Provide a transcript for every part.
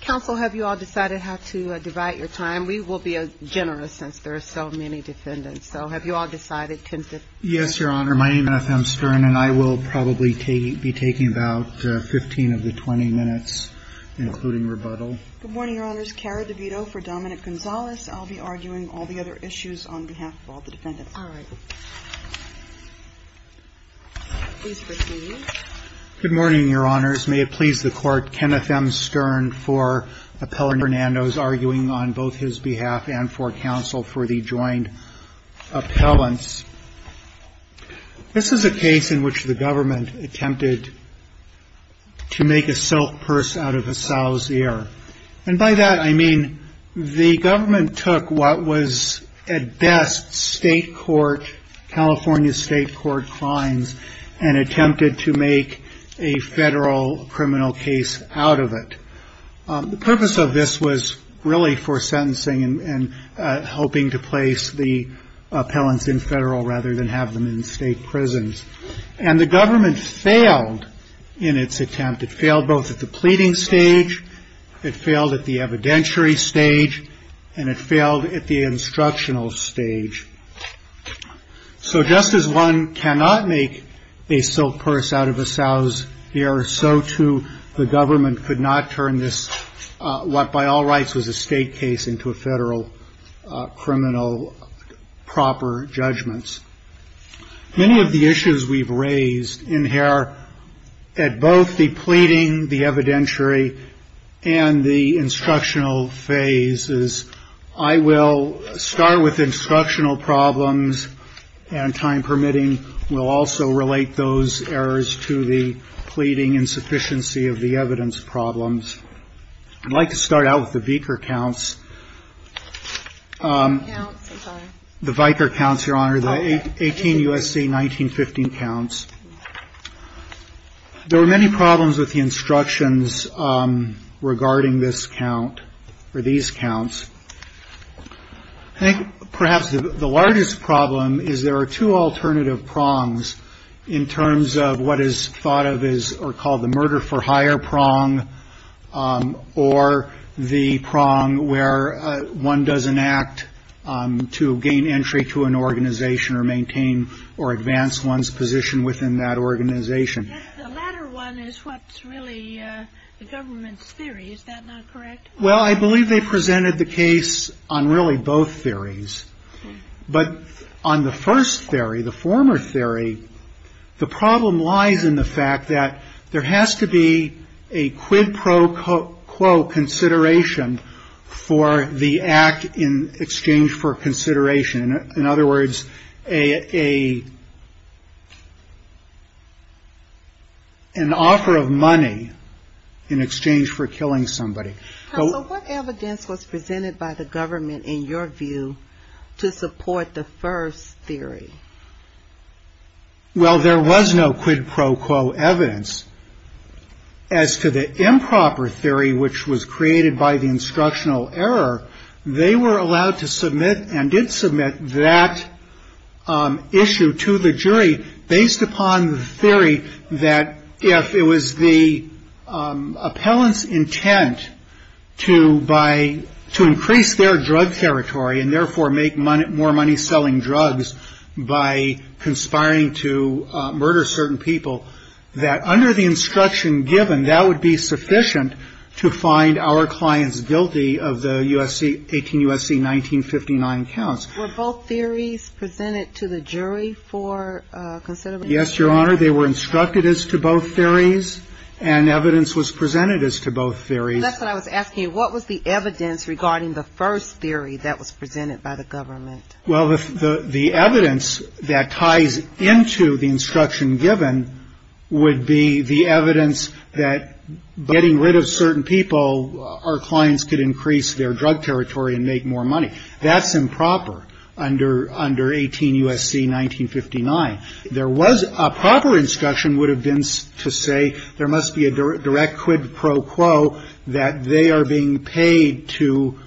Counsel, have you all decided how to divide your time? We will be generous, since there are so many defendants. So, have you all decided? Yes, Your Honor. My name is F.M. Stern, and I will probably be taking about 15 of the 20 minutes, including rebuttal. Good morning, Your Honors. Cara DeVito for Dominic Gonzales. I'll be arguing all the other issues on behalf of all the defendants. All right. Please proceed. Good morning, Your Honors. May it please the Court, Kenneth M. Stern for Appellant Fernandez arguing on both his behalf and for counsel for the joint appellants. This is a case in which the government attempted to make a silk purse out of a sow's ear. And by that, I mean the government took what was at best state court, California state court fines, and attempted to make a federal criminal case out of it. The purpose of this was really for sentencing and helping to place the appellants in federal rather than have them in state prisons. And the government failed in its attempt. It failed both at the pleading stage. It failed at the evidentiary stage. And it failed at the instructional stage. So just as one cannot make a silk purse out of a sow's ear, so, too, the government could not turn this, what by all rights was a state case, into a federal criminal proper judgments. Many of the issues we've raised in here at both the pleading, the evidentiary, and the instructional phases, I will start with instructional problems. And time permitting, we'll also relate those errors to the pleading insufficiency of the evidence problems. I'd like to start out with the vicar counts. The vicar counts, Your Honor, the 18 U.S.C. 1915 counts. There were many problems with the instructions regarding this count or these counts. I think perhaps the largest problem is there are two alternative prongs in terms of what is thought of as or called the murder for hire prong or the prong where one doesn't act to gain entry to an organization or maintain or advance one's position within that organization. The latter one is what's really the government's theory. Is that not correct? Well, I believe they presented the case on really both theories. But on the first theory, the former theory, the problem lies in the fact that there has to be a quid pro quo consideration for the act in exchange for consideration. In other words, an offer of money in exchange for killing somebody. So what evidence was presented by the government, in your view, to support the first theory? Well, there was no quid pro quo evidence. As to the improper theory, which was created by the instructional error, they were allowed to submit and did submit that issue to the jury based upon the theory that if it was the appellant's intent to increase their drug territory and therefore make more money selling drugs by conspiring to murder certain people, that under the instruction given, that would be sufficient to find our clients guilty of the U.S.C., 18 U.S.C. 1959 counts. Were both theories presented to the jury for consideration? Yes, Your Honor, they were instructed as to both theories, and evidence was presented as to both theories. That's what I was asking. What was the evidence regarding the first theory that was presented by the government? Well, the evidence that ties into the instruction given would be the evidence that getting rid of certain people, our clients could increase their drug territory and make more money. That's improper under 18 U.S.C. 1959. There was a proper instruction would have been to say there must be a direct quid pro quo that they are being paid to,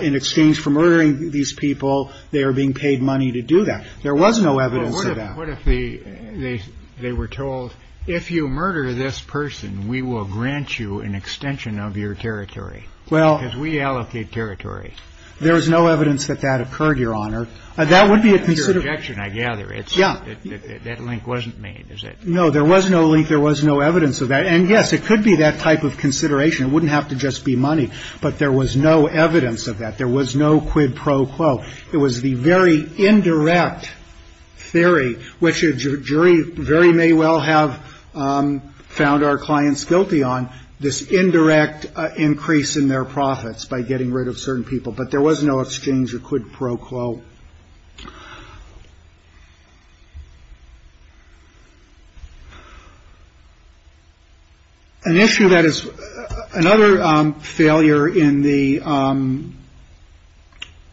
in exchange for murdering these people, they are being paid money to do that. There was no evidence of that. What if they were told, if you murder this person, we will grant you an extension of your territory? Because we allocate territory. There is no evidence that that occurred, Your Honor. Your objection, I gather, is that that link wasn't made, is it? No, there was no link. There was no evidence of that. And, yes, it could be that type of consideration. It wouldn't have to just be money. But there was no evidence of that. There was no quid pro quo. It was the very indirect theory, which a jury very may well have found our clients guilty on, this indirect increase in their profits by getting rid of certain people. But there was no exchange of quid pro quo. An issue that is another failure in the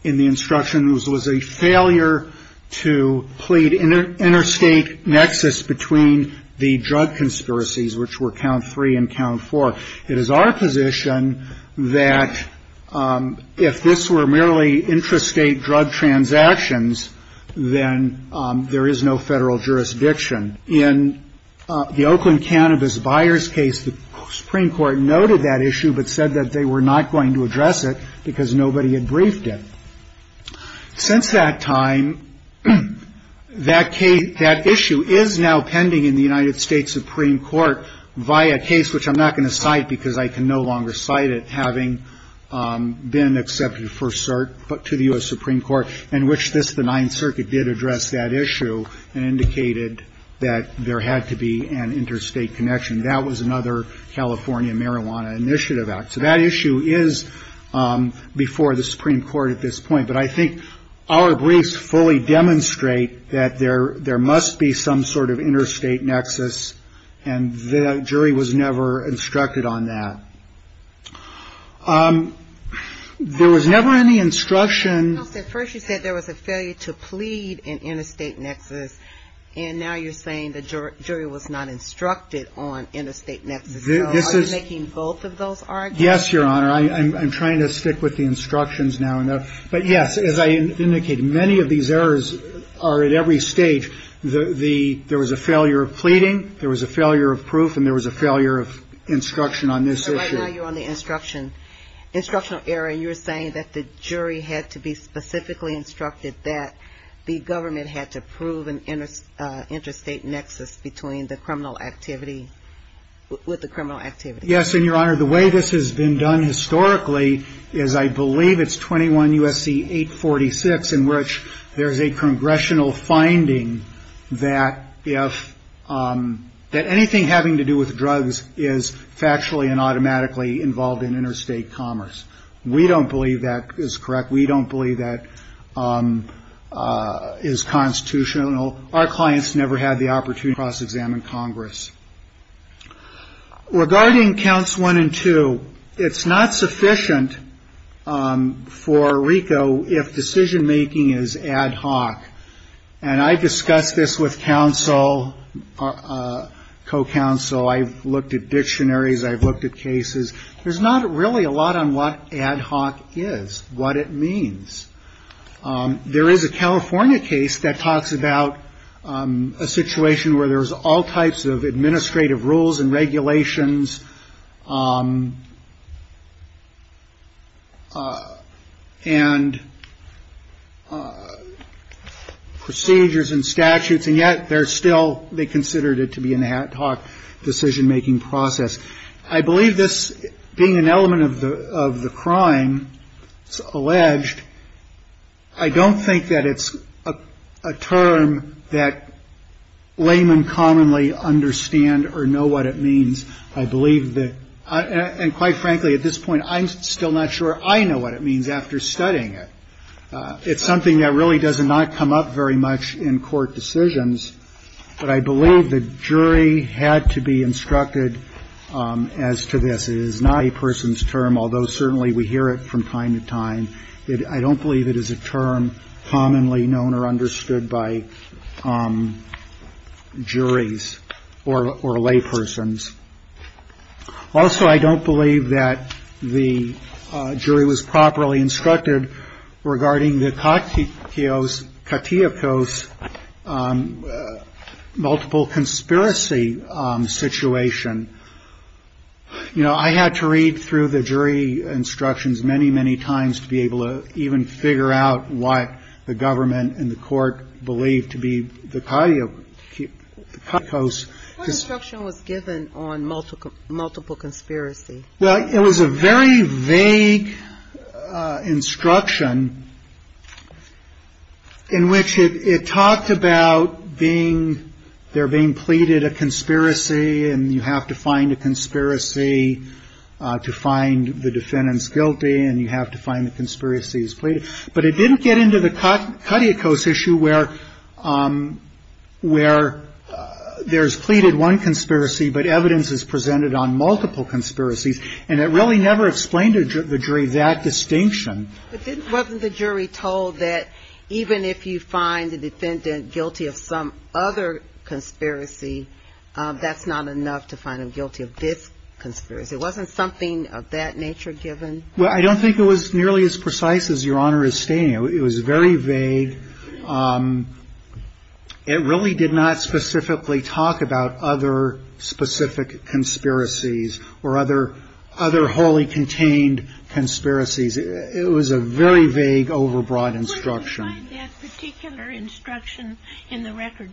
instruction was a failure to plead interstate nexus between the drug conspiracies, which were count three and count four. It is our position that if this were merely intrastate drug transactions, then there is no federal jurisdiction. In the Oakland cannabis buyers case, the Supreme Court noted that issue, but said that they were not going to address it because nobody had briefed it. Since that time, that issue is now pending in the United States Supreme Court via a case, which I'm not going to cite because I can no longer cite it, having been accepted to the U.S. Supreme Court in which the Ninth Circuit did address that issue and indicated that there had to be an interstate connection. That was another California marijuana initiative act. So that issue is before the Supreme Court at this point. But I think our briefs fully demonstrate that there must be some sort of interstate nexus, and the jury was never instructed on that. There was never any instruction. First you said there was a failure to plead an interstate nexus, and now you're saying the jury was not instructed on interstate nexus. Are you making both of those arguments? Yes, Your Honor. I'm trying to stick with the instructions now. But, yes, as I indicated, many of these errors are at every stage. There was a failure of pleading, there was a failure of proof, and there was a failure of instruction on this issue. So right now you're on the instructional area, and you're saying that the jury had to be specifically instructed that the government had to prove an interstate nexus between the criminal activity, with the criminal activity. Yes, and, Your Honor, the way this has been done historically is I believe it's 21 U.S.C. 846, in which there is a congressional finding that anything having to do with drugs is factually and automatically involved in interstate commerce. We don't believe that is correct. We don't believe that is constitutional. Our clients never had the opportunity to cross-examine Congress. Regarding counts one and two, it's not sufficient for RICO if decision-making is ad hoc. And I've discussed this with counsel, co-counsel. I've looked at dictionaries. I've looked at cases. There's not really a lot on what ad hoc is, what it means. There is a California case that talks about a situation where there's all types of administrative rules and regulations and procedures and statutes, and yet there's still they considered it to be an ad hoc decision-making process. I believe this, being an element of the crime alleged, I don't think that it's a term that laymen commonly understand or know what it means. I believe that, and quite frankly, at this point, I'm still not sure I know what it means after studying it. It's something that really does not come up very much in court decisions, but I believe the jury had to be instructed as to this. It is not a person's term, although certainly we hear it from time to time. I don't believe it is a term commonly known or understood by juries or laypersons. Also, I don't believe that the jury was properly instructed regarding the katiokos, multiple conspiracy situation. You know, I had to read through the jury instructions many, many times to be able to even figure out what the government and the court believed to be the katiokos. What instruction was given on multiple conspiracy? Well, it was a very vague instruction in which it talked about being, they're being pleaded a conspiracy and you have to find a conspiracy to find the defendants guilty and you have to find the conspiracies pleaded. But it didn't get into the katiokos issue where there's pleaded one conspiracy, but evidence is presented on multiple conspiracies and it really never explained to the jury that distinction. But wasn't the jury told that even if you find the defendant guilty of some other conspiracy, that's not enough to find him guilty of this conspiracy? It wasn't something of that nature given? Well, I don't think it was nearly as precise as Your Honor is stating. It was very vague. It really did not specifically talk about other specific conspiracies or other wholly contained conspiracies. It was a very vague, overbroad instruction. Where did you find that particular instruction in the record?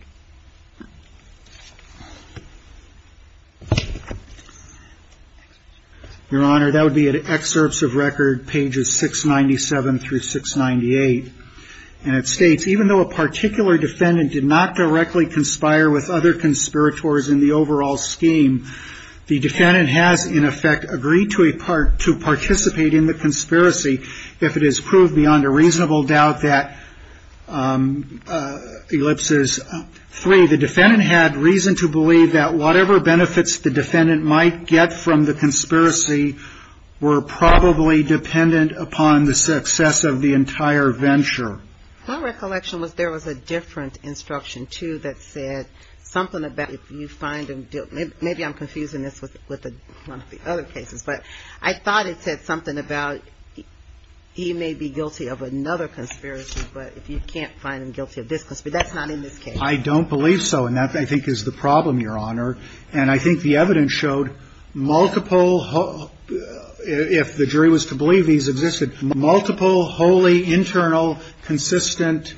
Your Honor, that would be at excerpts of record pages 697 through 698. And it states, even though a particular defendant did not directly conspire with other conspirators in the overall scheme, the defendant has in effect agreed to a part to participate in the conspiracy if it is proved beyond a reasonable doubt that ellipses, three, the defendant had reason to believe that whatever benefits the defendant might get from the conspiracy were probably dependent upon the success of the entire venture. My recollection was there was a different instruction, too, that said something about if you find him guilty, maybe I'm confusing this with one of the other cases, but I thought it said something about he may be guilty of another conspiracy, but if you can't find him guilty of this conspiracy, that's not in this case. I don't believe so. And that, I think, is the problem, Your Honor. And I think the evidence showed multiple, if the jury was to believe these existed, multiple wholly internal consistent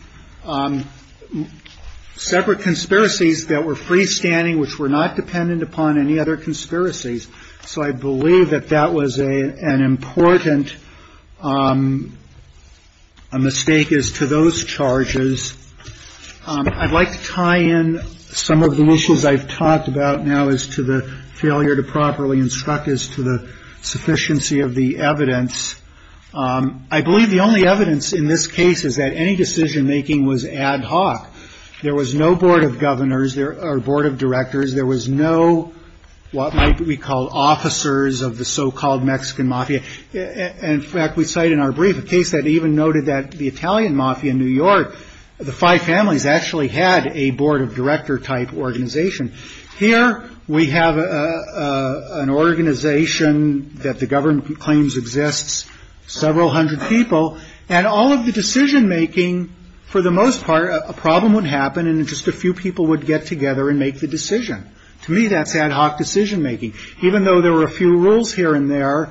separate conspiracies that were freestanding, which were not dependent upon any other conspiracies. So I believe that that was an important mistake as to those charges. I'd like to tie in some of the issues I've talked about now as to the failure to properly instruct us to the sufficiency of the evidence. I believe the only evidence in this case is that any decision-making was ad hoc. There was no board of governors or board of directors. There was no what might we call officers of the so-called Mexican mafia. In fact, we cite in our brief a case that even noted that the Italian mafia in New York, the five families actually had a board of director-type organization. Here we have an organization that the government claims exists, several hundred people, and all of the decision-making, for the most part, a problem would happen and just a few people would get together and make the decision. To me, that's ad hoc decision-making. Even though there were a few rules here and there,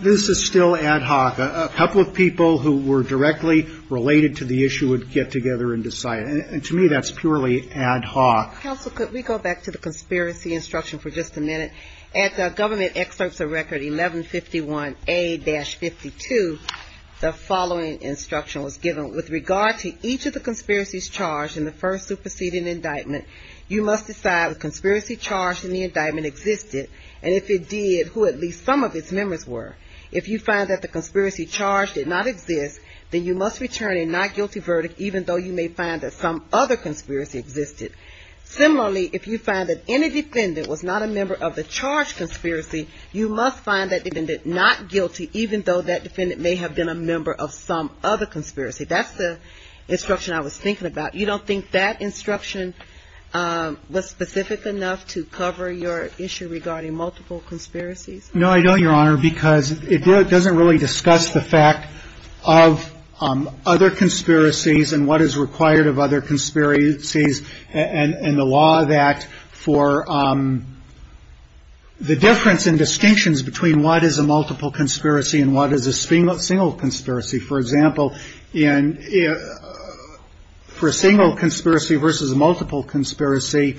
this is still ad hoc. A couple of people who were directly related to the issue would get together and decide. And to me, that's purely ad hoc. Counsel, could we go back to the conspiracy instruction for just a minute? At the government excerpts of record 1151A-52, the following instruction was given. With regard to each of the conspiracies charged in the first superseding indictment, you must decide if the conspiracy charged in the indictment existed and if it did, who at least some of its members were. If you find that the conspiracy charged did not exist, then you must return a not guilty verdict even though you may find that some other conspiracy existed. Similarly, if you find that any defendant was not a member of the charged conspiracy, you must find that defendant not guilty even though that defendant may have been a member of some other conspiracy. That's the instruction I was thinking about. You don't think that instruction was specific enough to cover your issue regarding multiple conspiracies? No, I don't, Your Honor, because it doesn't really discuss the fact of other conspiracies and what is required of other conspiracies and the law of that for the difference in distinctions between what is a multiple conspiracy and what is a single conspiracy. For example, for a single conspiracy versus a multiple conspiracy,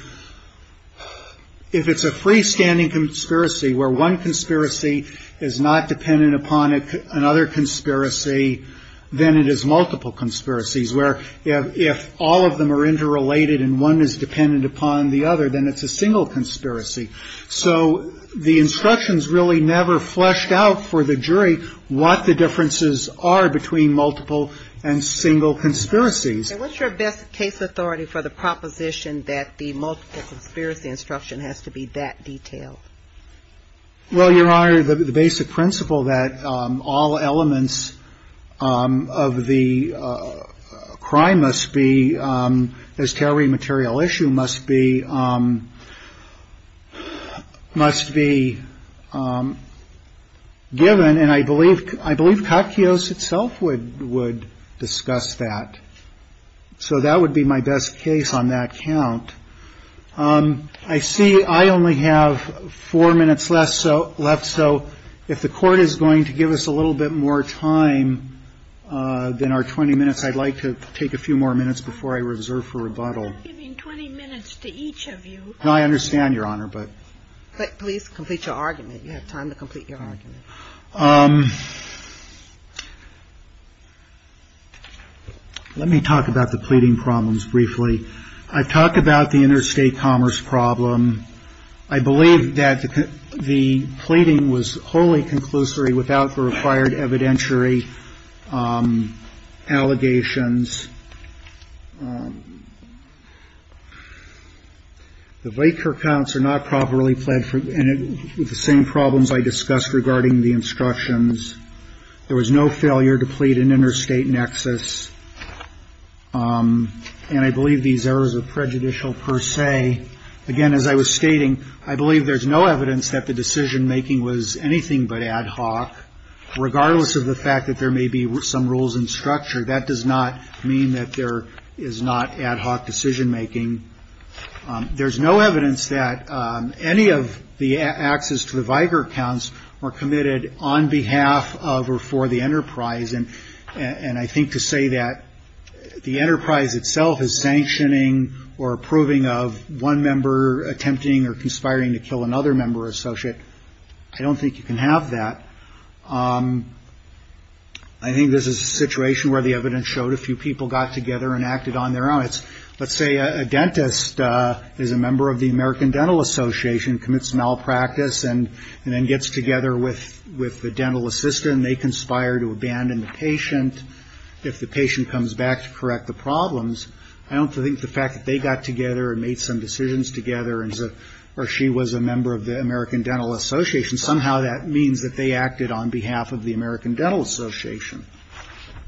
if it's a freestanding conspiracy where one conspiracy is not dependent upon another conspiracy, then it is multiple conspiracies where if all of them are interrelated and one is dependent upon the other, then it's a single conspiracy. So the instructions really never fleshed out for the jury what the differences are between multiple and single conspiracies. And what's your best case authority for the proposition that the multiple conspiracy instruction has to be that detailed? Well, Your Honor, the basic principle that all elements of the crime must be, as to every material issue, must be given. And I believe Katkios itself would discuss that. So that would be my best case on that count. I see I only have four minutes left. So if the court is going to give us a little bit more time than our 20 minutes, I'd like to take a few more minutes before I reserve for rebuttal. We're not giving 20 minutes to each of you. I understand, Your Honor, but. Please complete your argument. You have time to complete your argument. Let me talk about the pleading problems briefly. I've talked about the interstate commerce problem. I believe that the pleading was wholly conclusory without the required evidentiary allegations. The Vaker counts are not properly pled for the same problems I discussed regarding the instructions. There was no failure to plead an interstate nexus. And I believe these errors are prejudicial per se. Again, as I was stating, I believe there's no evidence that the decision making was anything but ad hoc. Regardless of the fact that there may be some rules and structure, that does not mean that there is not ad hoc decision making. There's no evidence that any of the access to the Vaker accounts were committed on behalf of or for the enterprise. And I think to say that the enterprise itself is sanctioning or approving of one member attempting or conspiring to kill another member or associate, I don't think you can have that. I think this is a situation where the evidence showed a few people got together and acted on their own. Let's say a dentist is a member of the American Dental Association, commits malpractice, and then gets together with the dental assistant, they conspire to abandon the patient. If the patient comes back to correct the problems, I don't think the fact that they got together and made some decisions together or she was a member of the American Dental Association, somehow that means that they acted on behalf of the American Dental Association.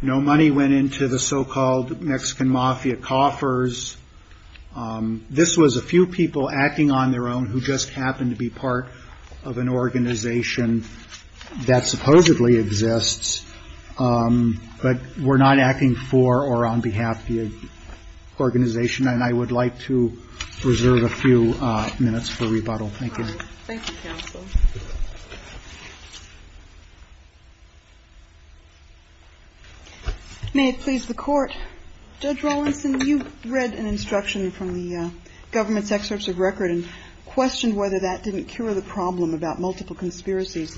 No money went into the so-called Mexican Mafia coffers. This was a few people acting on their own who just happened to be part of an organization that supposedly exists, but were not acting for or on behalf of the organization. And I would like to reserve a few minutes for rebuttal. Thank you. Thank you, counsel. May it please the Court, Judge Rawlinson, you read an instruction from the government's excerpts of record and questioned whether that didn't cure the problem about multiple conspiracies.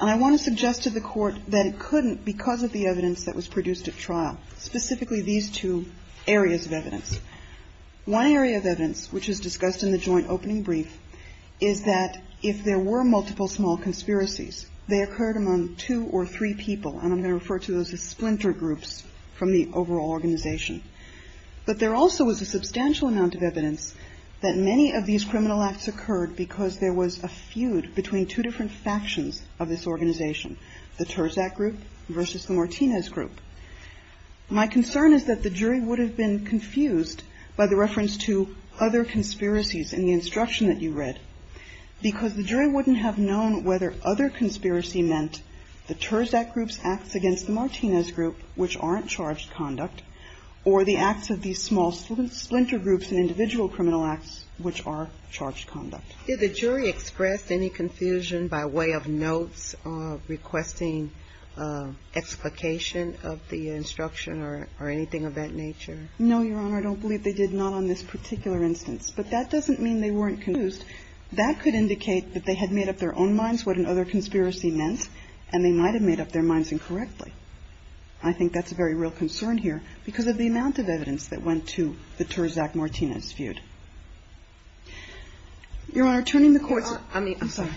And I want to suggest to the Court that it couldn't because of the evidence that was produced at trial, specifically these two areas of evidence. One area of evidence, which is discussed in the joint opening brief, is that if there were multiple small conspiracies, they occurred among two or three people, and I'm going to refer to those as splinter groups from the overall organization. But there also was a substantial amount of evidence that many of these criminal acts occurred because there was a feud between two different factions of this organization, the Terzak group versus the Martinez group. My concern is that the jury would have been confused by the reference to other conspiracies in the instruction that you read, because the jury wouldn't have known whether other conspiracy meant the Terzak group's acts against the Martinez group, which aren't charged conduct, or the acts of these small splinter groups in individual criminal acts, which are charged conduct. Did the jury express any confusion by way of notes, requesting explication of the instruction or anything of that nature? No, Your Honor. I don't believe they did, not on this particular instance. But that doesn't mean they weren't confused. That could indicate that they had made up their own minds what another conspiracy meant, and they might have made up their minds incorrectly. I think that's a very real concern here, because of the amount of evidence that went to the Terzak-Martinez feud. Your Honor, turning the courts... I mean... I'm sorry.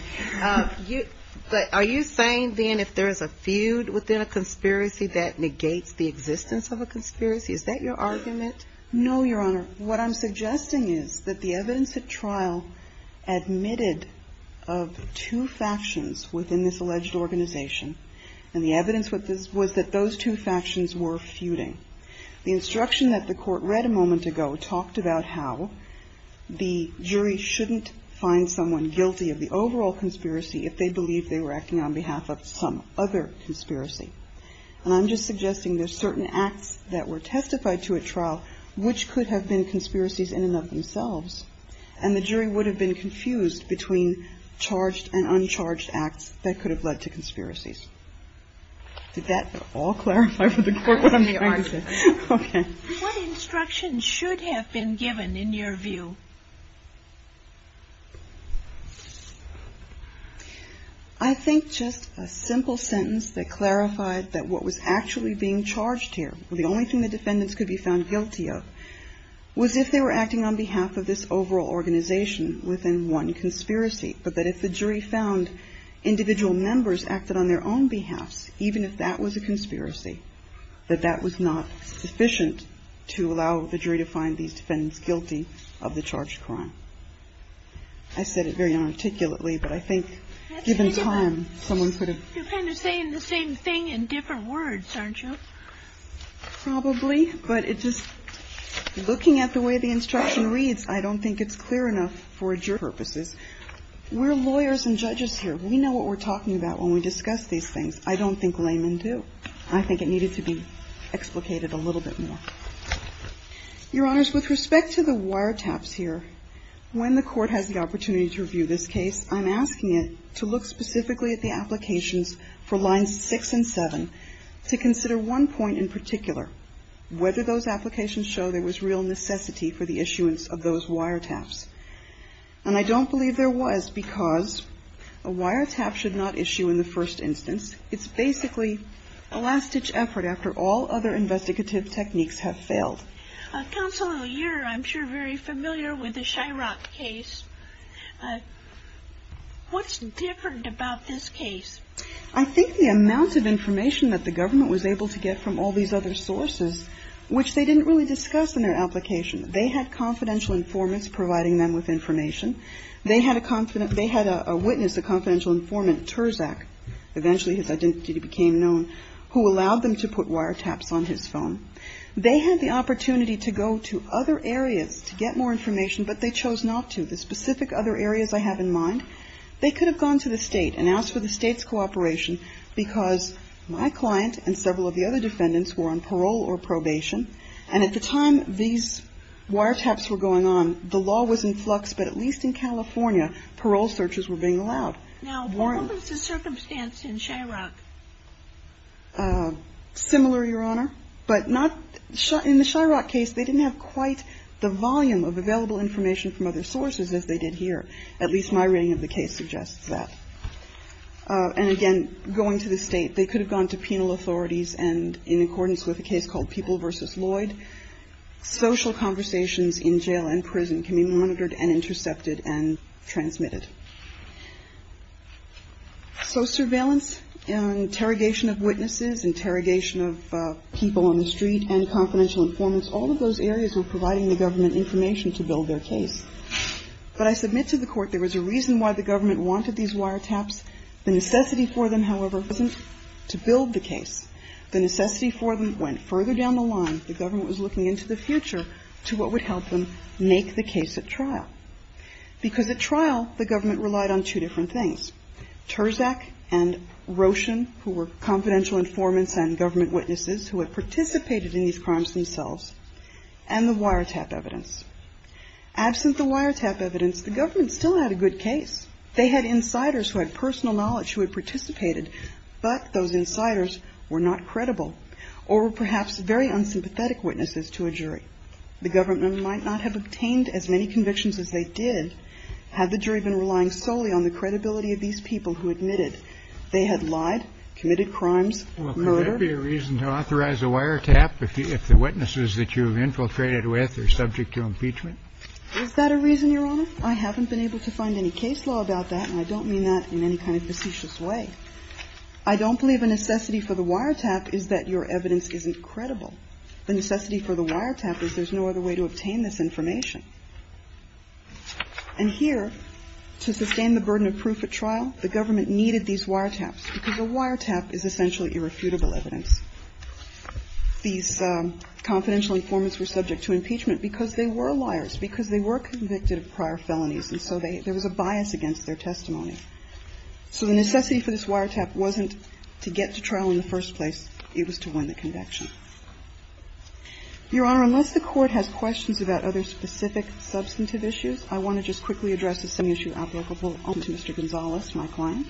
Are you saying then if there is a feud within a conspiracy that negates the existence of a conspiracy? Is that your argument? No, Your Honor. Your Honor, what I'm suggesting is that the evidence at trial admitted of two factions within this alleged organization, and the evidence was that those two factions were feuding. The instruction that the Court read a moment ago talked about how the jury shouldn't find someone guilty of the overall conspiracy if they believe they were acting on behalf of some other conspiracy. And I'm just suggesting there's certain acts that were testified to at trial which could have been conspiracies in and of themselves, and the jury would have been confused between charged and uncharged acts that could have led to conspiracies. Did that all clarify for the Court what I'm saying? Okay. What instruction should have been given in your view? I think just a simple sentence that clarified that what was actually being charged here, the only thing the defendants could be found guilty of, was if they were acting on behalf of this overall organization within one conspiracy, but that if the jury found individual members acted on their own behalves, even if that was a conspiracy, that that was not sufficient to allow the jury to find these defendants guilty of the charge. I don't think it's clear enough for jury purposes. We're lawyers and judges here. We know what we're talking about when we discuss these things. I don't think laymen do. I think it needed to be explicated a little bit more. Your Honors, with respect to the wiretaps here, I think it's clear enough for jury purposes. I think it's important to consider when the Court has the opportunity to review this case, I'm asking it to look specifically at the applications for Lines 6 and 7 to consider one point in particular, whether those applications show there was real necessity for the issuance of those wiretaps. And I don't believe there was because a wiretap should not issue in the first instance. It's basically a last-ditch effort after all other investigative techniques have failed. Counsel, you're, I'm sure, very familiar with the Chirac case. What's different about this case? I think the amount of information that the government was able to get from all these other sources, which they didn't really discuss in their application. They had confidential informants providing them with information. They had a witness, a confidential informant, Terzak, eventually his identity became known, who allowed them to put wiretaps on his phone. They had the opportunity to go to other areas to get more information, but they chose not to. The specific other areas I have in mind, they could have gone to the State and asked for the State's cooperation because my client and several of the other defendants were on parole or probation, and at the time these wiretaps were going on, the law was in flux, but at least in California, parole searches were being allowed. Now, what was the circumstance in Chirac? Similar, Your Honor, but not, in the Chirac case, they didn't have quite the volume of available information from other sources as they did here. At least my reading of the case suggests that. And again, going to the State, they could have gone to penal authorities, and in accordance with a case called People v. Lloyd, social conversations in jail and prison can be monitored and intercepted and transmitted. So surveillance, interrogation of witnesses, interrogation of people on the street and confidential informants, all of those areas were providing the government information to build their case. But I submit to the Court there was a reason why the government wanted these wiretaps. The necessity for them, however, wasn't to build the case. The necessity for them went further down the line. The government was looking into the future to what would help them make the case at trial. Because at trial, the government relied on two different things, Terzak and Roshin, who were confidential informants and government witnesses who had participated in these crimes themselves, and the wiretap evidence. Absent the wiretap evidence, the government still had a good case. They had insiders who had personal knowledge who had participated, but those insiders were not credible or were perhaps very unsympathetic witnesses to a jury. The government might not have obtained as many convictions as they did had the jury been relying solely on the credibility of these people who admitted they had lied, committed crimes, murdered. Well, could there be a reason to authorize a wiretap if the witnesses that you have infiltrated with are subject to impeachment? Is that a reason, Your Honor? I haven't been able to find any case law about that, and I don't mean that in any kind of facetious way. I don't believe a necessity for the wiretap is that your evidence isn't credible. The necessity for the wiretap is there's no other way to obtain this information. And here, to sustain the burden of proof at trial, the government needed these wiretaps, because a wiretap is essentially irrefutable evidence. These confidential informants were subject to impeachment because they were liars, because they were convicted of prior felonies, and so there was a bias against their testimony. So the necessity for this wiretap wasn't to get to trial in the first place. It was to win the conviction. Your Honor, unless the Court has questions about other specific substantive issues, I want to just quickly address some issue applicable to Mr. Gonzales, my client.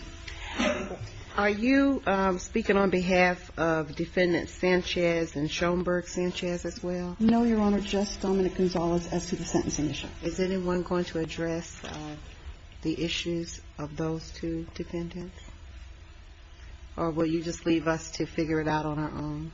Are you speaking on behalf of Defendants Sanchez and Schoenberg Sanchez as well? No, Your Honor, just Dominic Gonzales as to the sentencing issue. Is anyone going to address the issues of those two defendants? Or will you just leave us to figure it out on our own?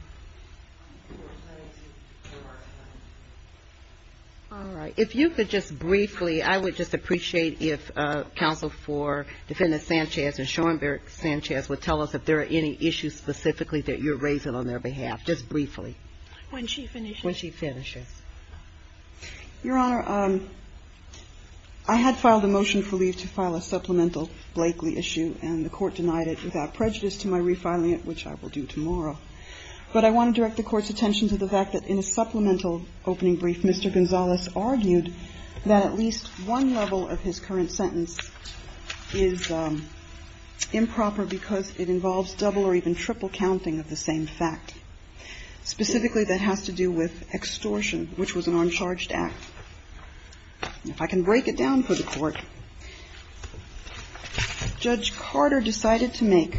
All right. If you could just briefly, I would just appreciate if Counsel for Defendants Sanchez and Schoenberg Sanchez would tell us if there are any issues specifically that you're raising on their behalf, just briefly. When she finishes. When she finishes. Your Honor, I had filed a motion for leave to file a supplemental Blakeley issue, and the Court denied it without prejudice to my refiling it, which I will do tomorrow. But I want to direct the Court's attention to the fact that in a supplemental opening brief, Mr. Gonzales argued that at least one level of his current sentence is improper because it involves double or even triple counting of the same fact. Specifically, that has to do with extortion, which was an uncharged act. If I can break it down for the Court, Judge Carter decided to make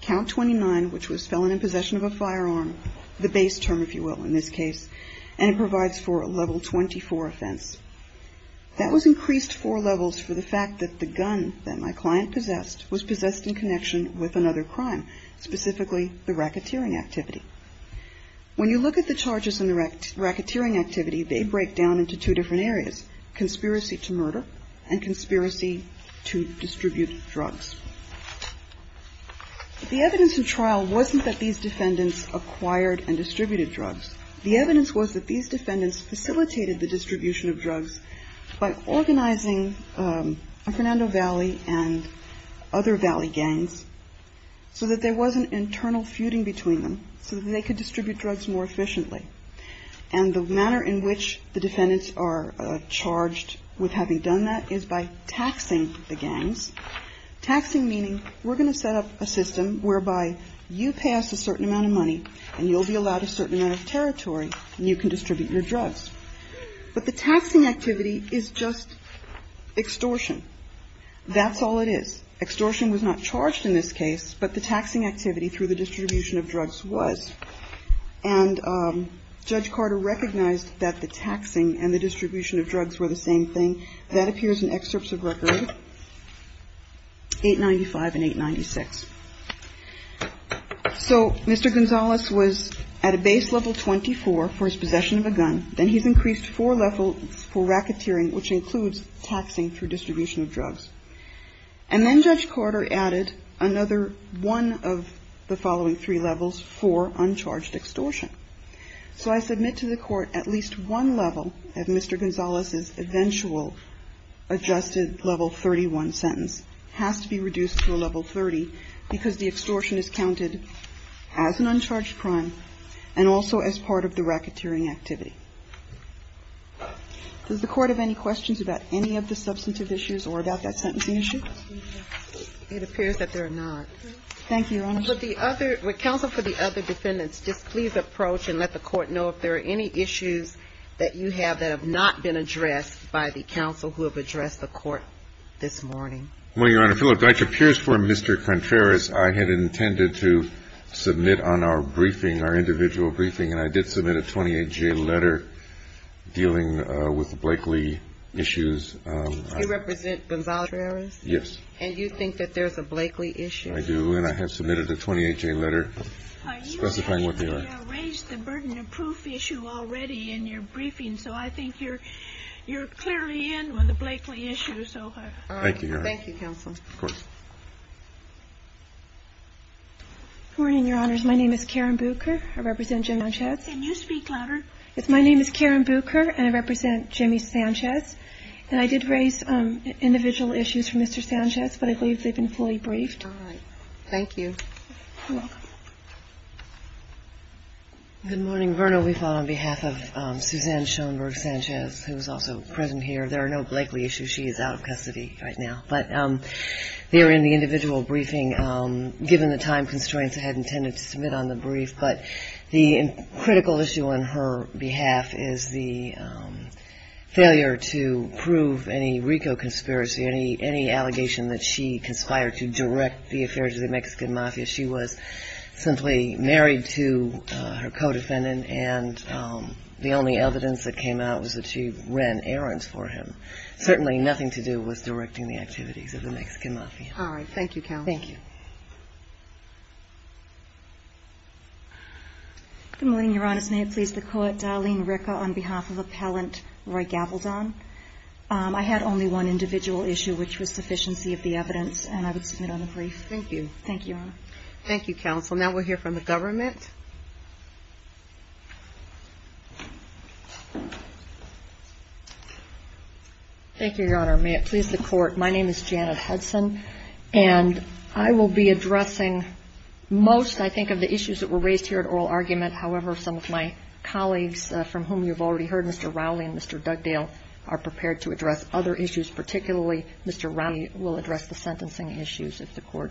count 29, which was felon in possession of a firearm, the base term, if you will, in this case, and it provides for a level 24 offense. That was increased four levels for the fact that the gun that my client possessed was possessed in connection with another crime, specifically the racketeering activity. When you look at the charges in the racketeering activity, they break down into two different areas, conspiracy to murder and conspiracy to distribute drugs. The evidence in trial wasn't that these defendants acquired and distributed drugs. The evidence was that these defendants facilitated the distribution of drugs by organizing a Fernando Valley and other Valley gangs so that there wasn't internal feuding between them so that they could distribute drugs more efficiently. And the manner in which the defendants are charged with having done that is by taxing the gangs, taxing meaning we're going to set up a system whereby you pay us a certain amount of money and you'll be allowed a certain amount of territory and you can distribute your drugs. But the taxing activity is just extortion. That's all it is. Extortion was not charged in this case, but the taxing activity through the distribution of drugs was. And Judge Carter recognized that the taxing and the distribution of drugs were the same thing. That appears in excerpts of record 895 and 896. So Mr. Gonzalez was at a base level 24 for his possession of a gun. Then he's increased four levels for racketeering, which includes taxing through distribution of drugs. And then Judge Carter added another one of the following three levels for uncharged extortion. So I submit to the Court at least one level of Mr. Gonzalez's eventual adjusted level 31 sentence has to be reduced to a level 30 because the extortion is counted as an uncharged crime and also as part of the racketeering activity. Does the Court have any questions about any of the substantive issues or about that sentencing issue? It appears that there are not. Thank you, Your Honor. Would counsel for the other defendants just please approach and let the Court know if there are any issues that you have that have not been addressed by the counsel who have addressed the Court this morning? Well, Your Honor, it appears for Mr. Contreras I had intended to submit on our briefing, our individual briefing, and I did submit a 28-J letter dealing with Blake Lee issues. You represent Gonzalez? Yes. And you think that there's a Blake Lee issue? I do, and I have submitted a 28-J letter specifying what they are. You have raised the burden of proof issue already in your briefing, so I think you're clearly in on the Blake Lee issue. Thank you, Your Honor. Thank you, counsel. Of course. Good morning, Your Honors. My name is Karen Bucher. I represent Jimmy Sanchez. Can you speak louder? Yes. My name is Karen Bucher, and I represent Jimmy Sanchez. And I did raise individual issues for Mr. Sanchez, but I believe they've been fully briefed. All right. Thank you. You're welcome. Good morning, Verna. We fall on behalf of Suzanne Schoenberg Sanchez, who is also present here. There are no Blake Lee issues. She is out of custody right now. But they are in the individual briefing. Given the time constraints, I had intended to submit on the brief, but the critical issue on her behalf is the failure to prove any RICO conspiracy, any allegation that she conspired to direct the affairs of the Mexican Mafia. She was simply married to her co-defendant, and the only evidence that came out was that she ran errands for him. Certainly nothing to do with directing the activities of the Mexican Mafia. All right. Thank you, counsel. Thank you. Good morning, Your Honors. May it please the Court. Darlene Ricca on behalf of Appellant Roy Gavaldon. I had only one individual issue, which was sufficiency of the evidence, and I would submit on the brief. Thank you. Thank you, Your Honor. Thank you, counsel. Now we'll hear from the government. Thank you, Your Honor. May it please the Court. My name is Janet Hudson, and I will be addressing most, I think, of the issues that were raised here at oral argument. However, some of my colleagues, from whom you've already heard, Mr. Rowley and Mr. Dugdale, are prepared to address other issues, particularly Mr. Rowley will address the sentencing issues, if the Court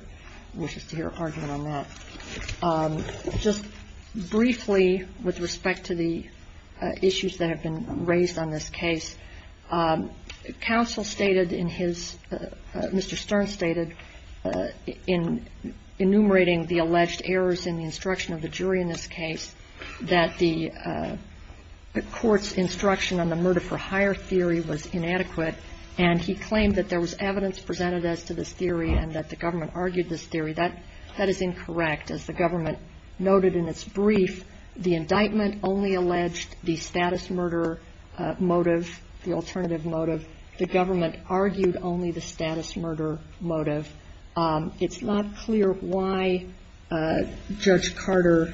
wishes to hear an argument on that. Just briefly, with respect to the issues that have been raised on this case, counsel stated in his, Mr. Stern stated, in enumerating the alleged errors in the instruction of the jury in this case, that the court's instruction on the murder-for-hire theory was inadequate, and he claimed that there was evidence presented as to this theory and that the government argued this theory. That is incorrect. As the government noted in its brief, the indictment only alleged the status murder motive, the alternative motive. The government argued only the status murder motive. It's not clear why Judge Carter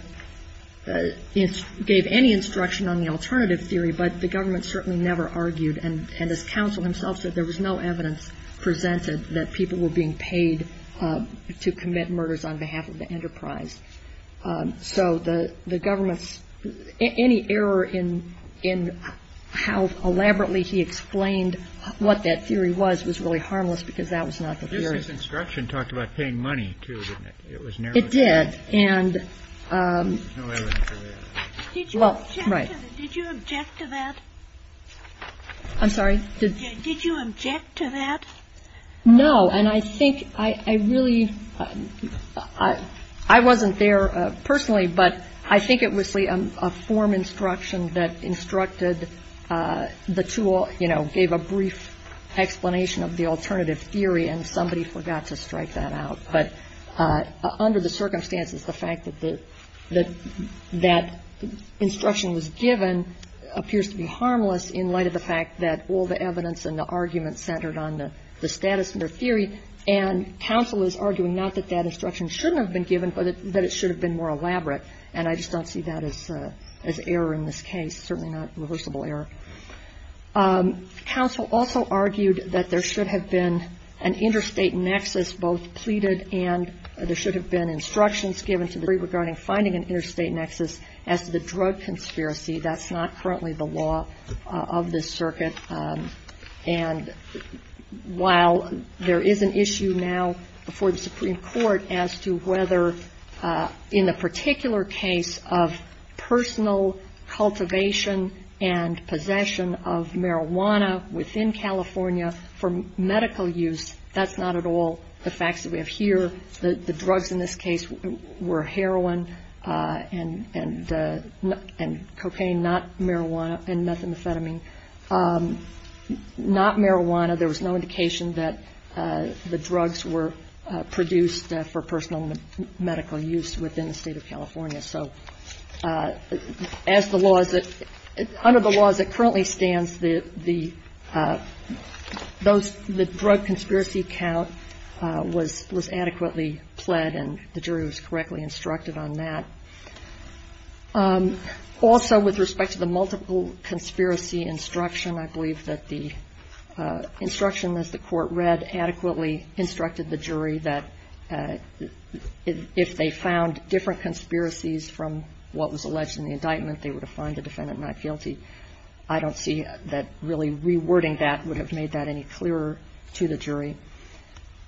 gave any instruction on the alternative theory, but the government certainly never argued. And as counsel himself said, there was no evidence presented that people were being paid to commit murders on behalf of the enterprise. So the government's – any error in how elaborately he explained what that theory was, was really harmless because that was not the theory. Kennedy. His instruction talked about paying money, too, didn't it? It was narrowed down. Kagan. It did. And – Kennedy. No evidence of that. Kagan. Well, right. Ginsburg. Did you object to that? Kagan. I'm sorry? Did you object to that? Kagan. No, and I think I really – I wasn't there personally, but I think it was a form instruction that instructed the two – you know, gave a brief explanation of the alternative theory, and somebody forgot to strike that out. But under the circumstances, the fact that that instruction was given appears to be harmless in light of the fact that all the evidence and the argument centered on the status of their theory, and counsel is arguing not that that instruction shouldn't have been given, but that it should have been more elaborate. And I just don't see that as error in this case, certainly not reversible error. Counsel also argued that there should have been an interstate nexus both pleaded and there should have been instructions given to the jury regarding finding an interstate nexus as to the drug conspiracy. That's not currently the law of this circuit. And while there is an issue now before the Supreme Court as to whether in a particular case of personal cultivation and possession of marijuana within California for medical use, that's not at all the facts that we have here. The drugs in this case were heroin and cocaine, not marijuana, and methamphetamine, not marijuana. There was no indication that the drugs were produced for personal medical use within the State of California. So as the law is that under the laws that currently stands, the drug conspiracy count was adequately pled and the jury was correctly instructed on that. Also, with respect to the multiple conspiracy instruction, I believe that the instruction as the Court read adequately instructed the jury that if they found different conspiracies from what was alleged in the indictment, they would find the defendant not guilty. I don't see that really rewording that would have made that any clearer to the jury.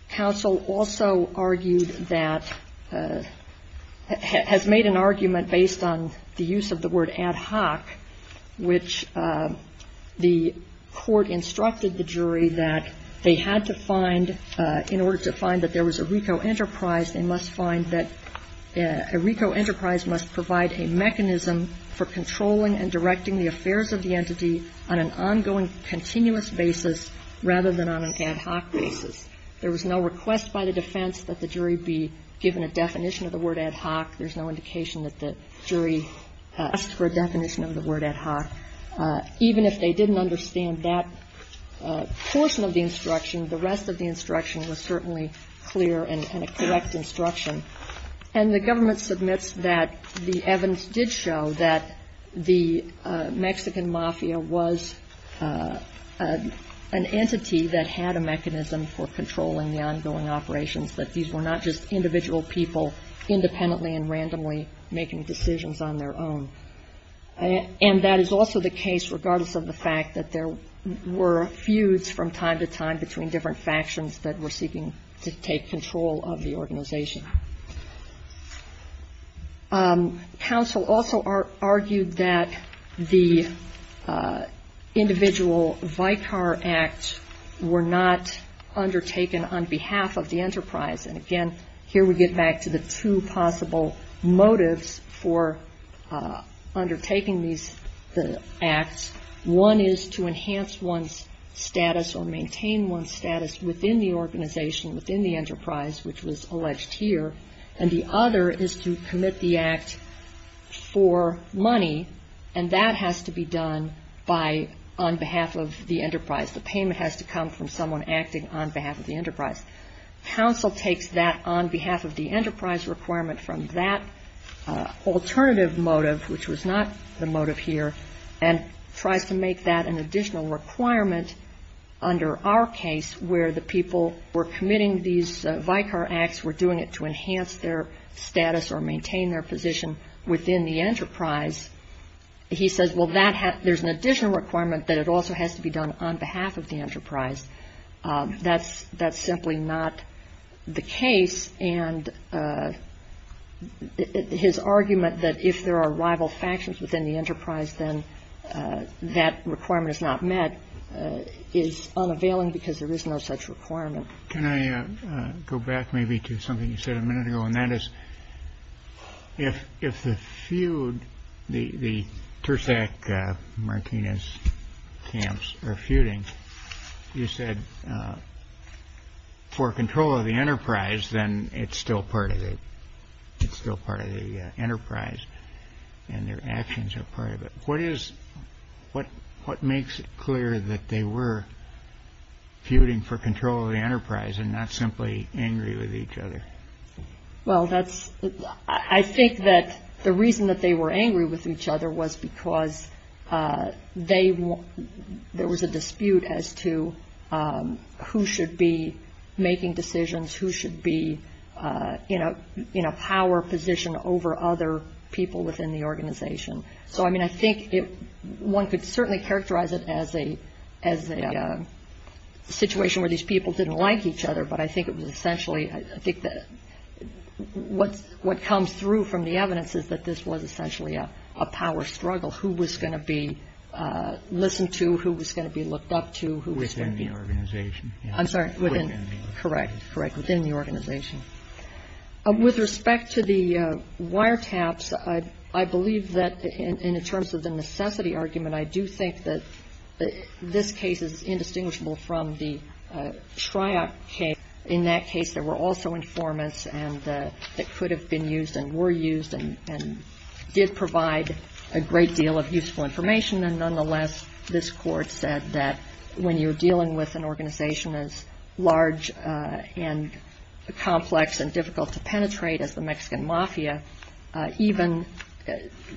Counsel also argued that has made an argument based on the use of the word ad hoc, which the Court instructed the jury that they had to find, in order to find that there was no request by the defense that the jury be given a definition of the word ad hoc. There's no indication that the jury asked for a definition of the word ad hoc. Even if they didn't understand that portion of the instruction, the rest of the instruction was certainly clear and a correct instruction. And the government submits that the evidence did show that the Mexican mafia was an entity that had a mechanism for controlling the ongoing operations, that these were not just individual people independently and randomly making decisions on their own. And that is also the case regardless of the fact that there were feuds from time to time between different factions that were seeking to take control of the organization. Counsel also argued that the individual Vicar Act were not undertaken on behalf of the enterprise. And again, here we get back to the two possible motives for undertaking these acts. One is to enhance one's status or maintain one's status within the organization, within the enterprise, which was alleged here. And the other is to commit the act for money, and that has to be done on behalf of the enterprise. The payment has to come from someone acting on behalf of the enterprise. Counsel takes that on behalf of the enterprise requirement from that alternative motive, which was not the motive here, and tries to make that an additional requirement under our case where the people were committing these Vicar Acts, were doing it to enhance their status or maintain their position within the enterprise. He says, well, there's an additional requirement that it also has to be done on behalf of the enterprise. That's simply not the case. And his argument that if there are rival factions within the enterprise, then that requirement is not met is unavailing because there is no such requirement. Can I go back maybe to something you said a minute ago? And that is if the feud, the Tursac-Martinez camps are feuding, you said for control of the enterprise, then it's still part of it. It's still part of the enterprise, and their actions are part of it. What is, what makes it clear that they were feuding for control of the enterprise and not simply angry with each other? Well, that's, I think that the reason that they were angry with each other was because they, there was a dispute as to who should be making decisions, who should be in a power position over other people within the organization. So, I mean, I think one could certainly characterize it as a situation where these people didn't like each other, but I think it was essentially, I think that what comes through from the evidence is that this was essentially a power struggle. Who was going to be listened to? Who was going to be looked up to? Within the organization. I'm sorry. Within the organization. Correct, correct. Within the organization. With respect to the wiretaps, I believe that in terms of the necessity argument, I do think that this case is indistinguishable from the TRIOP case. In that case, there were also informants, and it could have been used and were used and did provide a great deal of useful information. And nonetheless, this Court said that when you're dealing with an organization as large and complex and difficult to penetrate as the Mexican Mafia, even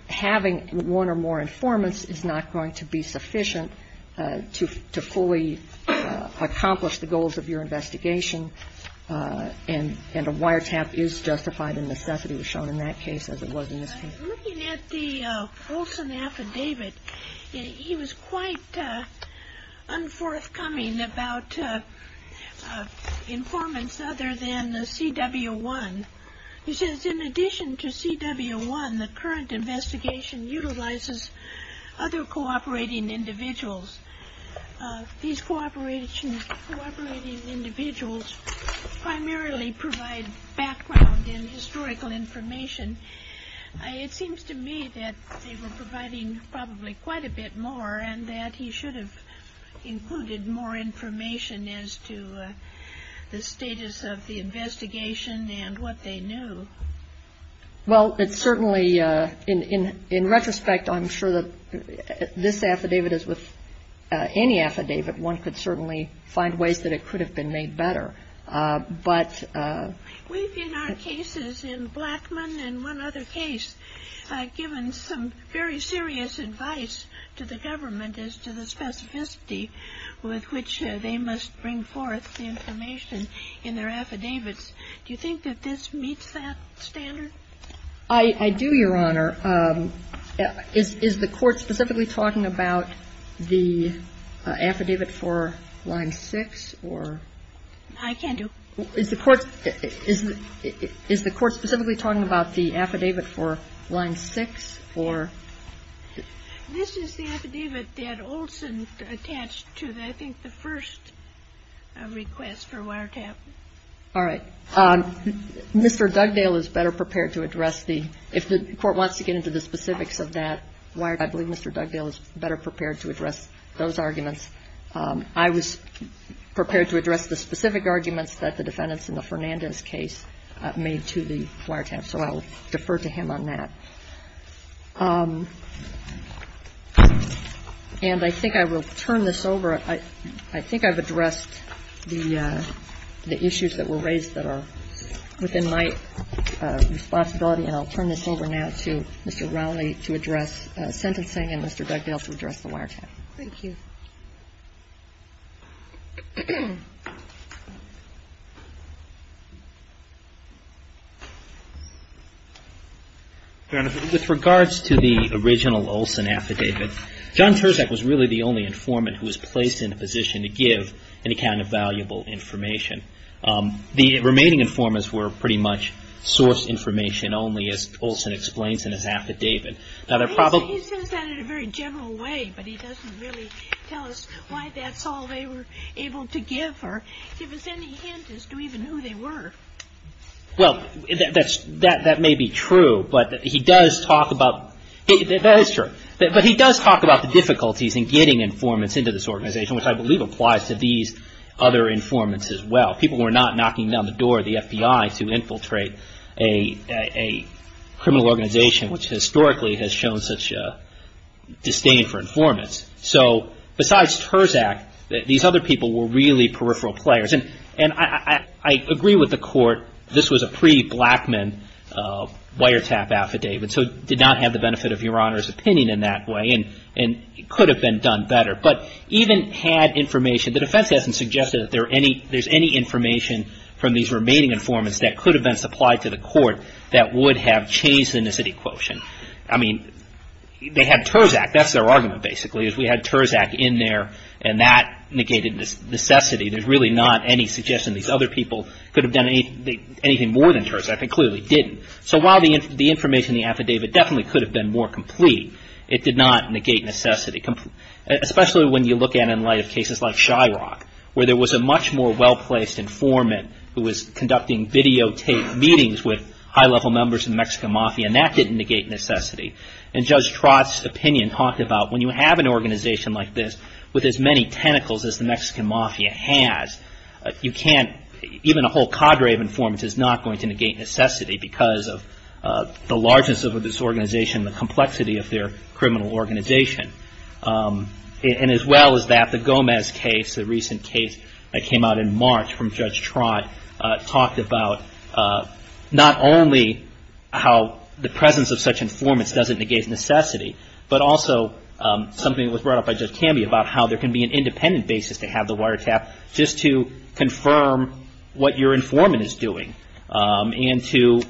having one or more informants is not going to be sufficient to fully accomplish the goals of your investigation, and a wiretap is justified in necessity, as shown in that case as it was in this case. Looking at the Olson affidavit, he was quite unforthcoming about informants other than the CW1. He says, in addition to CW1, the current investigation utilizes other cooperating individuals. These cooperating individuals primarily provide background and historical information. It seems to me that they were providing probably quite a bit more and that he should have included more information as to the status of the investigation and what they knew. Well, it certainly, in retrospect, I'm sure that this affidavit is with any affidavit. One could certainly find ways that it could have been made better. We've, in our cases, in Blackman and one other case, given some very serious advice to the government as to the specificity with which they must bring forth the information in their affidavits. Do you think that this meets that standard? I do, Your Honor. I'm not sure. Is the Court specifically talking about the affidavit for Line 6 or...? I can't do it. Is the Court specifically talking about the affidavit for Line 6 or...? This is the affidavit that Olson attached to, I think, the first request for wiretapping. All right. Mr. Dugdale is better prepared to address the — if the Court wants to get into the specifics of that wiretapping, I believe Mr. Dugdale is better prepared to address those arguments. I was prepared to address the specific arguments that the defendants in the Fernandez case made to the wiretapping, so I will defer to him on that. And I think I will turn this over. Your Honor, I think I've addressed the issues that were raised that are within my responsibility, and I'll turn this over now to Mr. Rowley to address sentencing and Mr. Dugdale to address the wiretapping. Thank you. Your Honor, with regards to the original Olson affidavit, John Terzak was really the only informant who was placed in a position to give any kind of valuable information. The remaining informants were pretty much source information only, as Olson explains in his affidavit. He says that in a very general way, but he doesn't really tell us why that's all they were able to give or give us any hint as to even who they were. Well, that may be true, but he does talk about — that is true. But he does talk about the difficulties in getting informants into this organization, which I believe applies to these other informants as well. People were not knocking down the door of the FBI to infiltrate a criminal organization, which historically has shown such disdain for informants. So besides Terzak, these other people were really peripheral players. And I agree with the Court, this was a pre-Blackman wiretap affidavit, so it did not have the benefit of Your Honor's opinion in that way. And it could have been done better. But even had information — the defense hasn't suggested that there's any information from these remaining informants that could have been supplied to the Court that would have changed the necessity quotient. I mean, they had Terzak. That's their argument, basically, is we had Terzak in there, and that negated necessity. There's really not any suggestion these other people could have done anything more than Terzak. They clearly didn't. So while the information in the affidavit definitely could have been more complete, it did not negate necessity, especially when you look at it in light of cases like Shyrock, where there was a much more well-placed informant who was conducting videotaped meetings with high-level members of the Mexican mafia, and that didn't negate necessity. And Judge Trott's opinion talked about when you have an organization like this with as many tentacles as the Mexican mafia has, you can't — the largeness of this organization, the complexity of their criminal organization. And as well as that, the Gomez case, the recent case that came out in March from Judge Trott, talked about not only how the presence of such informants doesn't negate necessity, but also something that was brought up by Judge Camby about how there can be an independent basis to have the wiretap just to confirm what your informant is doing and to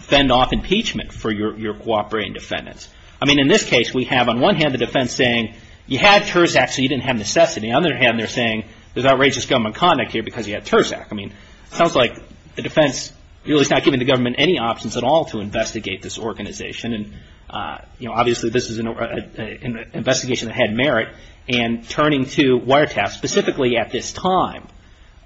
fend off impeachment for your cooperating defendants. I mean, in this case, we have on one hand the defense saying, you had TRSAC, so you didn't have necessity. On the other hand, they're saying, there's outrageous government conduct here because you had TRSAC. I mean, it sounds like the defense really is not giving the government any options at all to investigate this organization. And obviously, this is an investigation that had merit. And turning to wiretaps, specifically at this time,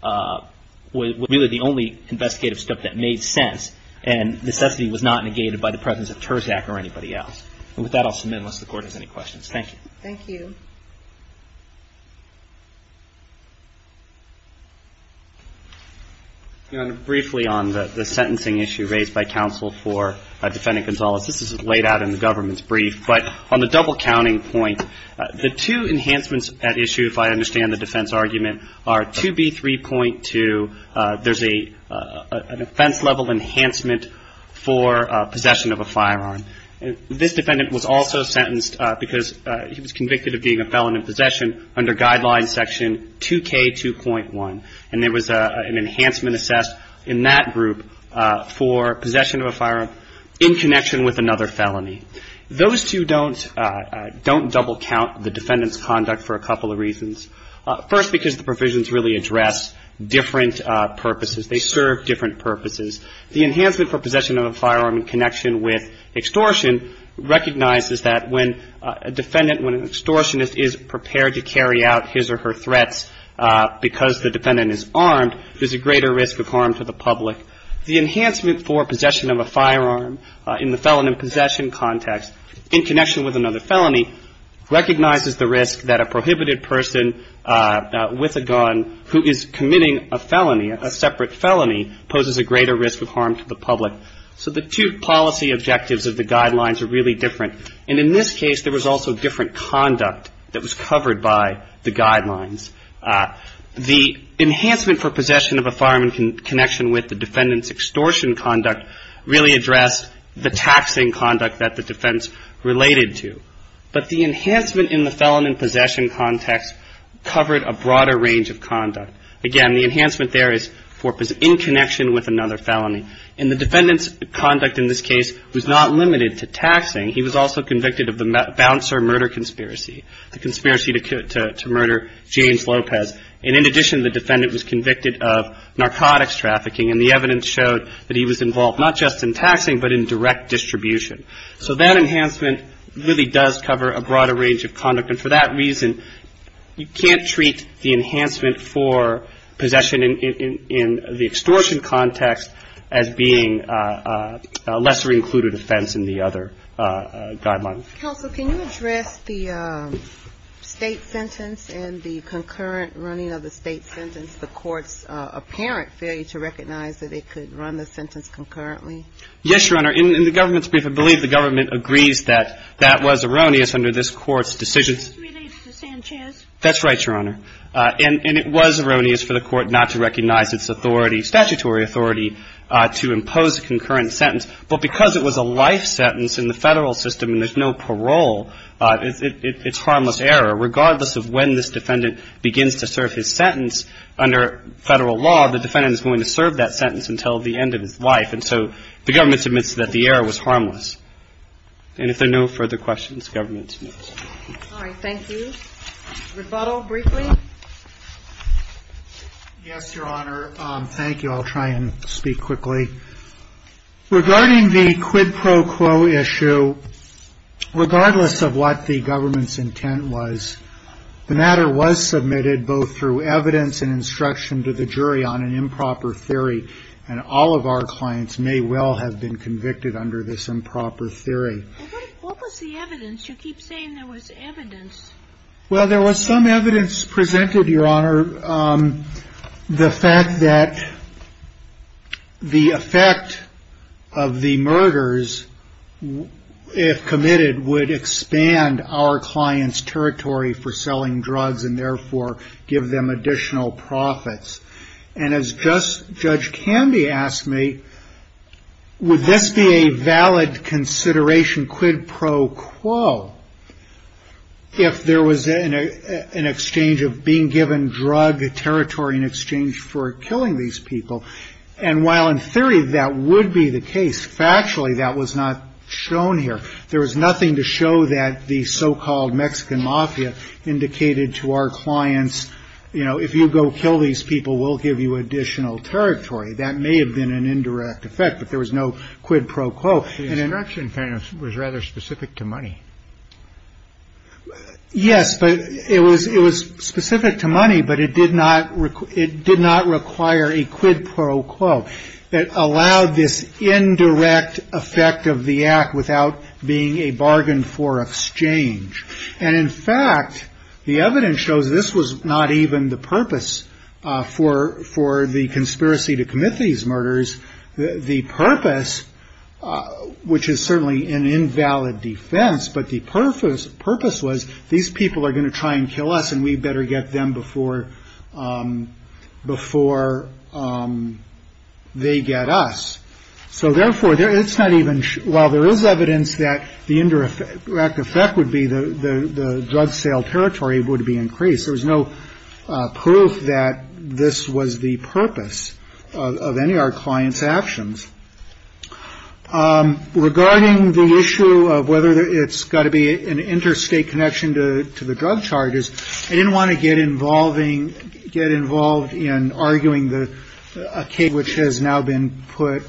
was really the only investigative step that made sense. And necessity was not negated by the presence of TRSAC or anybody else. And with that, I'll submit unless the Court has any questions. Thank you. Thank you. Briefly on the sentencing issue raised by counsel for Defendant Gonzalez, this is laid out in the government's brief. But on the double-counting point, the two enhancements at issue, if I understand the defense argument, are 2B3.2. There's an offense-level enhancement for possession of a firearm. This defendant was also sentenced because he was convicted of being a felon in possession under Guidelines Section 2K2.1. And there was an enhancement assessed in that group for possession of a firearm in connection with another felony. Those two don't double-count the defendant's conduct for a couple of reasons. First, because the provisions really address different purposes. They serve different purposes. The enhancement for possession of a firearm in connection with extortion recognizes that when a defendant, when an extortionist is prepared to carry out his or her threats because the defendant is armed, there's a greater risk of harm to the public. The enhancement for possession of a firearm in the felon in possession context in connection with another felony recognizes the risk that a prohibited person with a gun who is committing a felony, a separate felony, poses a greater risk of harm to the public. So the two policy objectives of the Guidelines are really different. And in this case, there was also different conduct that was covered by the Guidelines. The enhancement for possession of a firearm in connection with the defendant's extortion conduct really addressed the taxing conduct that the defense related to. But the enhancement in the felon in possession context covered a broader range of conduct. Again, the enhancement there is in connection with another felony. And the defendant's conduct in this case was not limited to taxing. He was also convicted of the bouncer murder conspiracy, the conspiracy to murder James Lopez. And in addition, the defendant was convicted of narcotics trafficking. And the evidence showed that he was involved not just in taxing but in direct distribution. So that enhancement really does cover a broader range of conduct. And for that reason, you can't treat the enhancement for possession in the extortion context as being a lesser included offense in the other Guidelines. Counsel, can you address the state sentence and the concurrent running of the state sentence, the court's apparent failure to recognize that it could run the sentence concurrently? Yes, Your Honor. In the government's brief, I believe the government agrees that that was erroneous under this court's decisions. Related to Sanchez. That's right, Your Honor. And it was erroneous for the court not to recognize its authority, statutory authority, to impose a concurrent sentence. But because it was a life sentence in the federal system and there's no parole, it's harmless error. Regardless of when this defendant begins to serve his sentence under federal law, the defendant is going to serve that sentence until the end of his life. And so the government admits that the error was harmless. And if there are no further questions, government is moved. All right. Thank you. Rebuttal briefly. Yes, Your Honor. Thank you. I'll try and speak quickly. Regarding the quid pro quo issue, regardless of what the government's intent was, the matter was submitted both through evidence and instruction to the jury on an improper theory. And all of our clients may well have been convicted under this improper theory. What was the evidence? You keep saying there was evidence. Well, there was some evidence presented, Your Honor. The fact that the effect of the murders, if committed, would expand our client's territory for selling drugs and therefore give them additional profits. And as Judge Candy asked me, would this be a valid consideration quid pro quo if there was an exchange of being given drug territory in exchange for killing these people? And while in theory that would be the case, factually that was not shown here. There was nothing to show that the so-called Mexican mafia indicated to our clients, you know, if you go kill these people, we'll give you additional territory. That may have been an indirect effect, but there was no quid pro quo. The instruction was rather specific to money. Yes, but it was specific to money, but it did not require a quid pro quo. It allowed this indirect effect of the act without being a bargain for exchange. And in fact, the evidence shows this was not even the purpose for the conspiracy to commit these murders. The purpose, which is certainly an invalid defense, but the purpose was these people are going to try and kill us and we better get them before they get us. So therefore, it's not even while there is evidence that the indirect effect would be the drug sale territory would be increased. There was no proof that this was the purpose of any of our clients actions. Regarding the issue of whether it's got to be an interstate connection to the drug charges, I didn't want to get involving get involved in arguing the case, which has now been put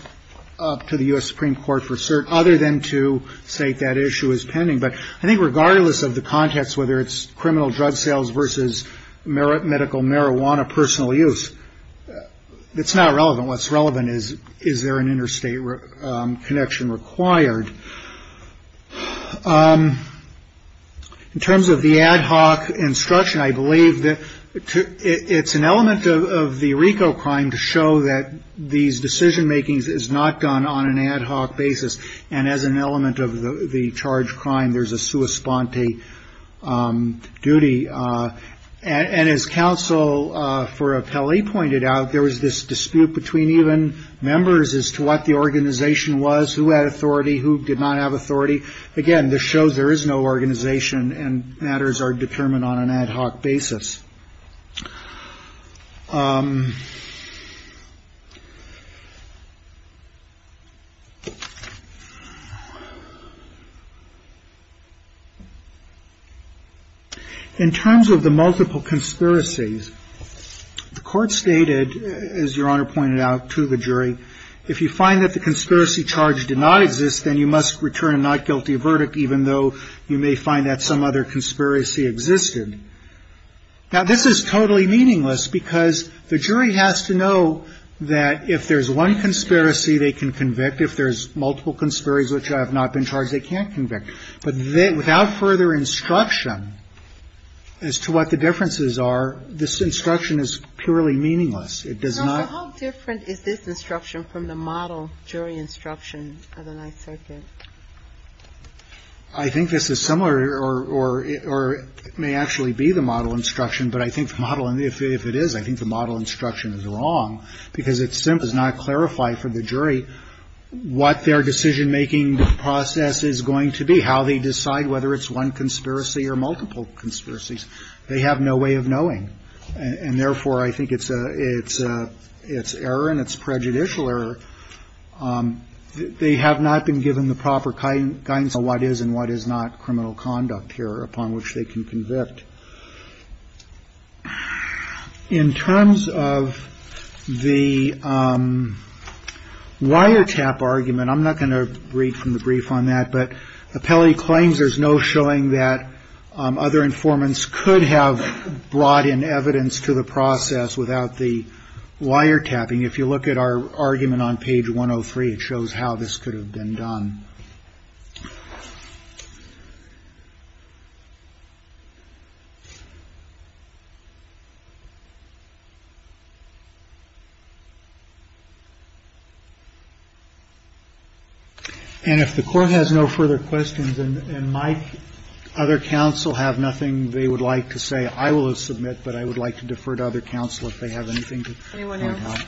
up to the U.S. Supreme Court for certain other than to say that issue is pending. But I think regardless of the context, whether it's criminal drug sales versus merit, medical marijuana, personal use, it's not relevant. What's relevant is, is there an interstate connection required? In terms of the ad hoc instruction, I believe that it's an element of the Rico crime to show that these decision makings is not done on an ad hoc basis. And as an element of the charge crime, there's a sua sponte duty. And as counsel for a Pele pointed out, there was this dispute between even members as to what the organization was, who had authority, who did not have authority. Again, this shows there is no organization and matters are determined on an ad hoc basis. In terms of the multiple conspiracies, the court stated, as Your Honor pointed out to the jury, if you find that the conspiracy charge did not exist, then you must return a not guilty verdict, even though you may find that some other conspiracy existed. Now, this is totally meaningless because the jury has to know that if there's one conspiracy, they can convict. If there's multiple conspiracies which have not been charged, they can't convict. But without further instruction as to what the differences are, this instruction is purely meaningless. It does not ---- No, but how different is this instruction from the model jury instruction of the Ninth Circuit? I think this is similar or it may actually be the model instruction. But I think the model, if it is, I think the model instruction is wrong because it simply does not clarify for the jury what their decision-making process is going to be, how they decide whether it's one conspiracy or multiple conspiracies. They have no way of knowing. And therefore, I think it's error and it's prejudicial error. They have not been given the proper guidance on what is and what is not criminal conduct here upon which they can convict. In terms of the wiretap argument, I'm not going to read from the brief on that, but Appelli claims there's no showing that other informants could have brought in evidence to the process without the wiretapping. If you look at our argument on page 103, it shows how this could have been done. And if the Court has no further questions and my other counsel have nothing they would like to say, I will submit, but I would like to defer to other counsel if they have anything to add. Thank you, Your Honor.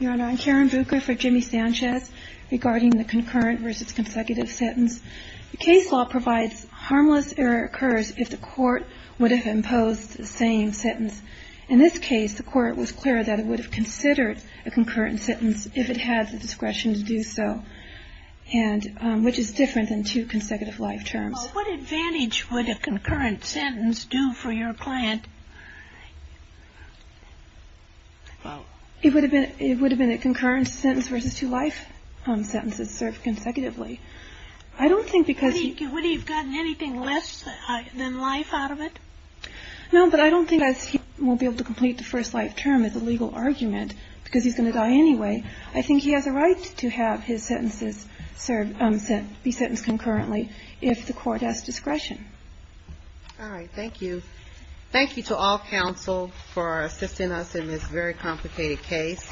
Your Honor, I'm Karen Bucher for Jimmy Sanchez regarding the concurrent versus consecutive sentence. The case law provides harmless error occurs if the Court would have imposed the same sentence. In this case, the Court was clear that it would have considered a concurrent sentence if it had the discretion to do so, and which is different than two consecutive life terms. Well, what advantage would a concurrent sentence do for your client? Well, it would have been a concurrent sentence versus two life sentences served consecutively. I don't think because... Would he have gotten anything less than life out of it? No, but I don't think he won't be able to complete the first life term as a legal argument because he's going to die anyway. I think he has a right to have his sentences be sentenced concurrently if the Court has discretion. All right. Thank you. Thank you to all counsel for assisting us in this very complicated case.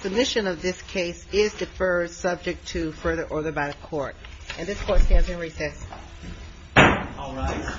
Submission of this case is deferred subject to further order by the Court. And this Court stands in recess. All rise.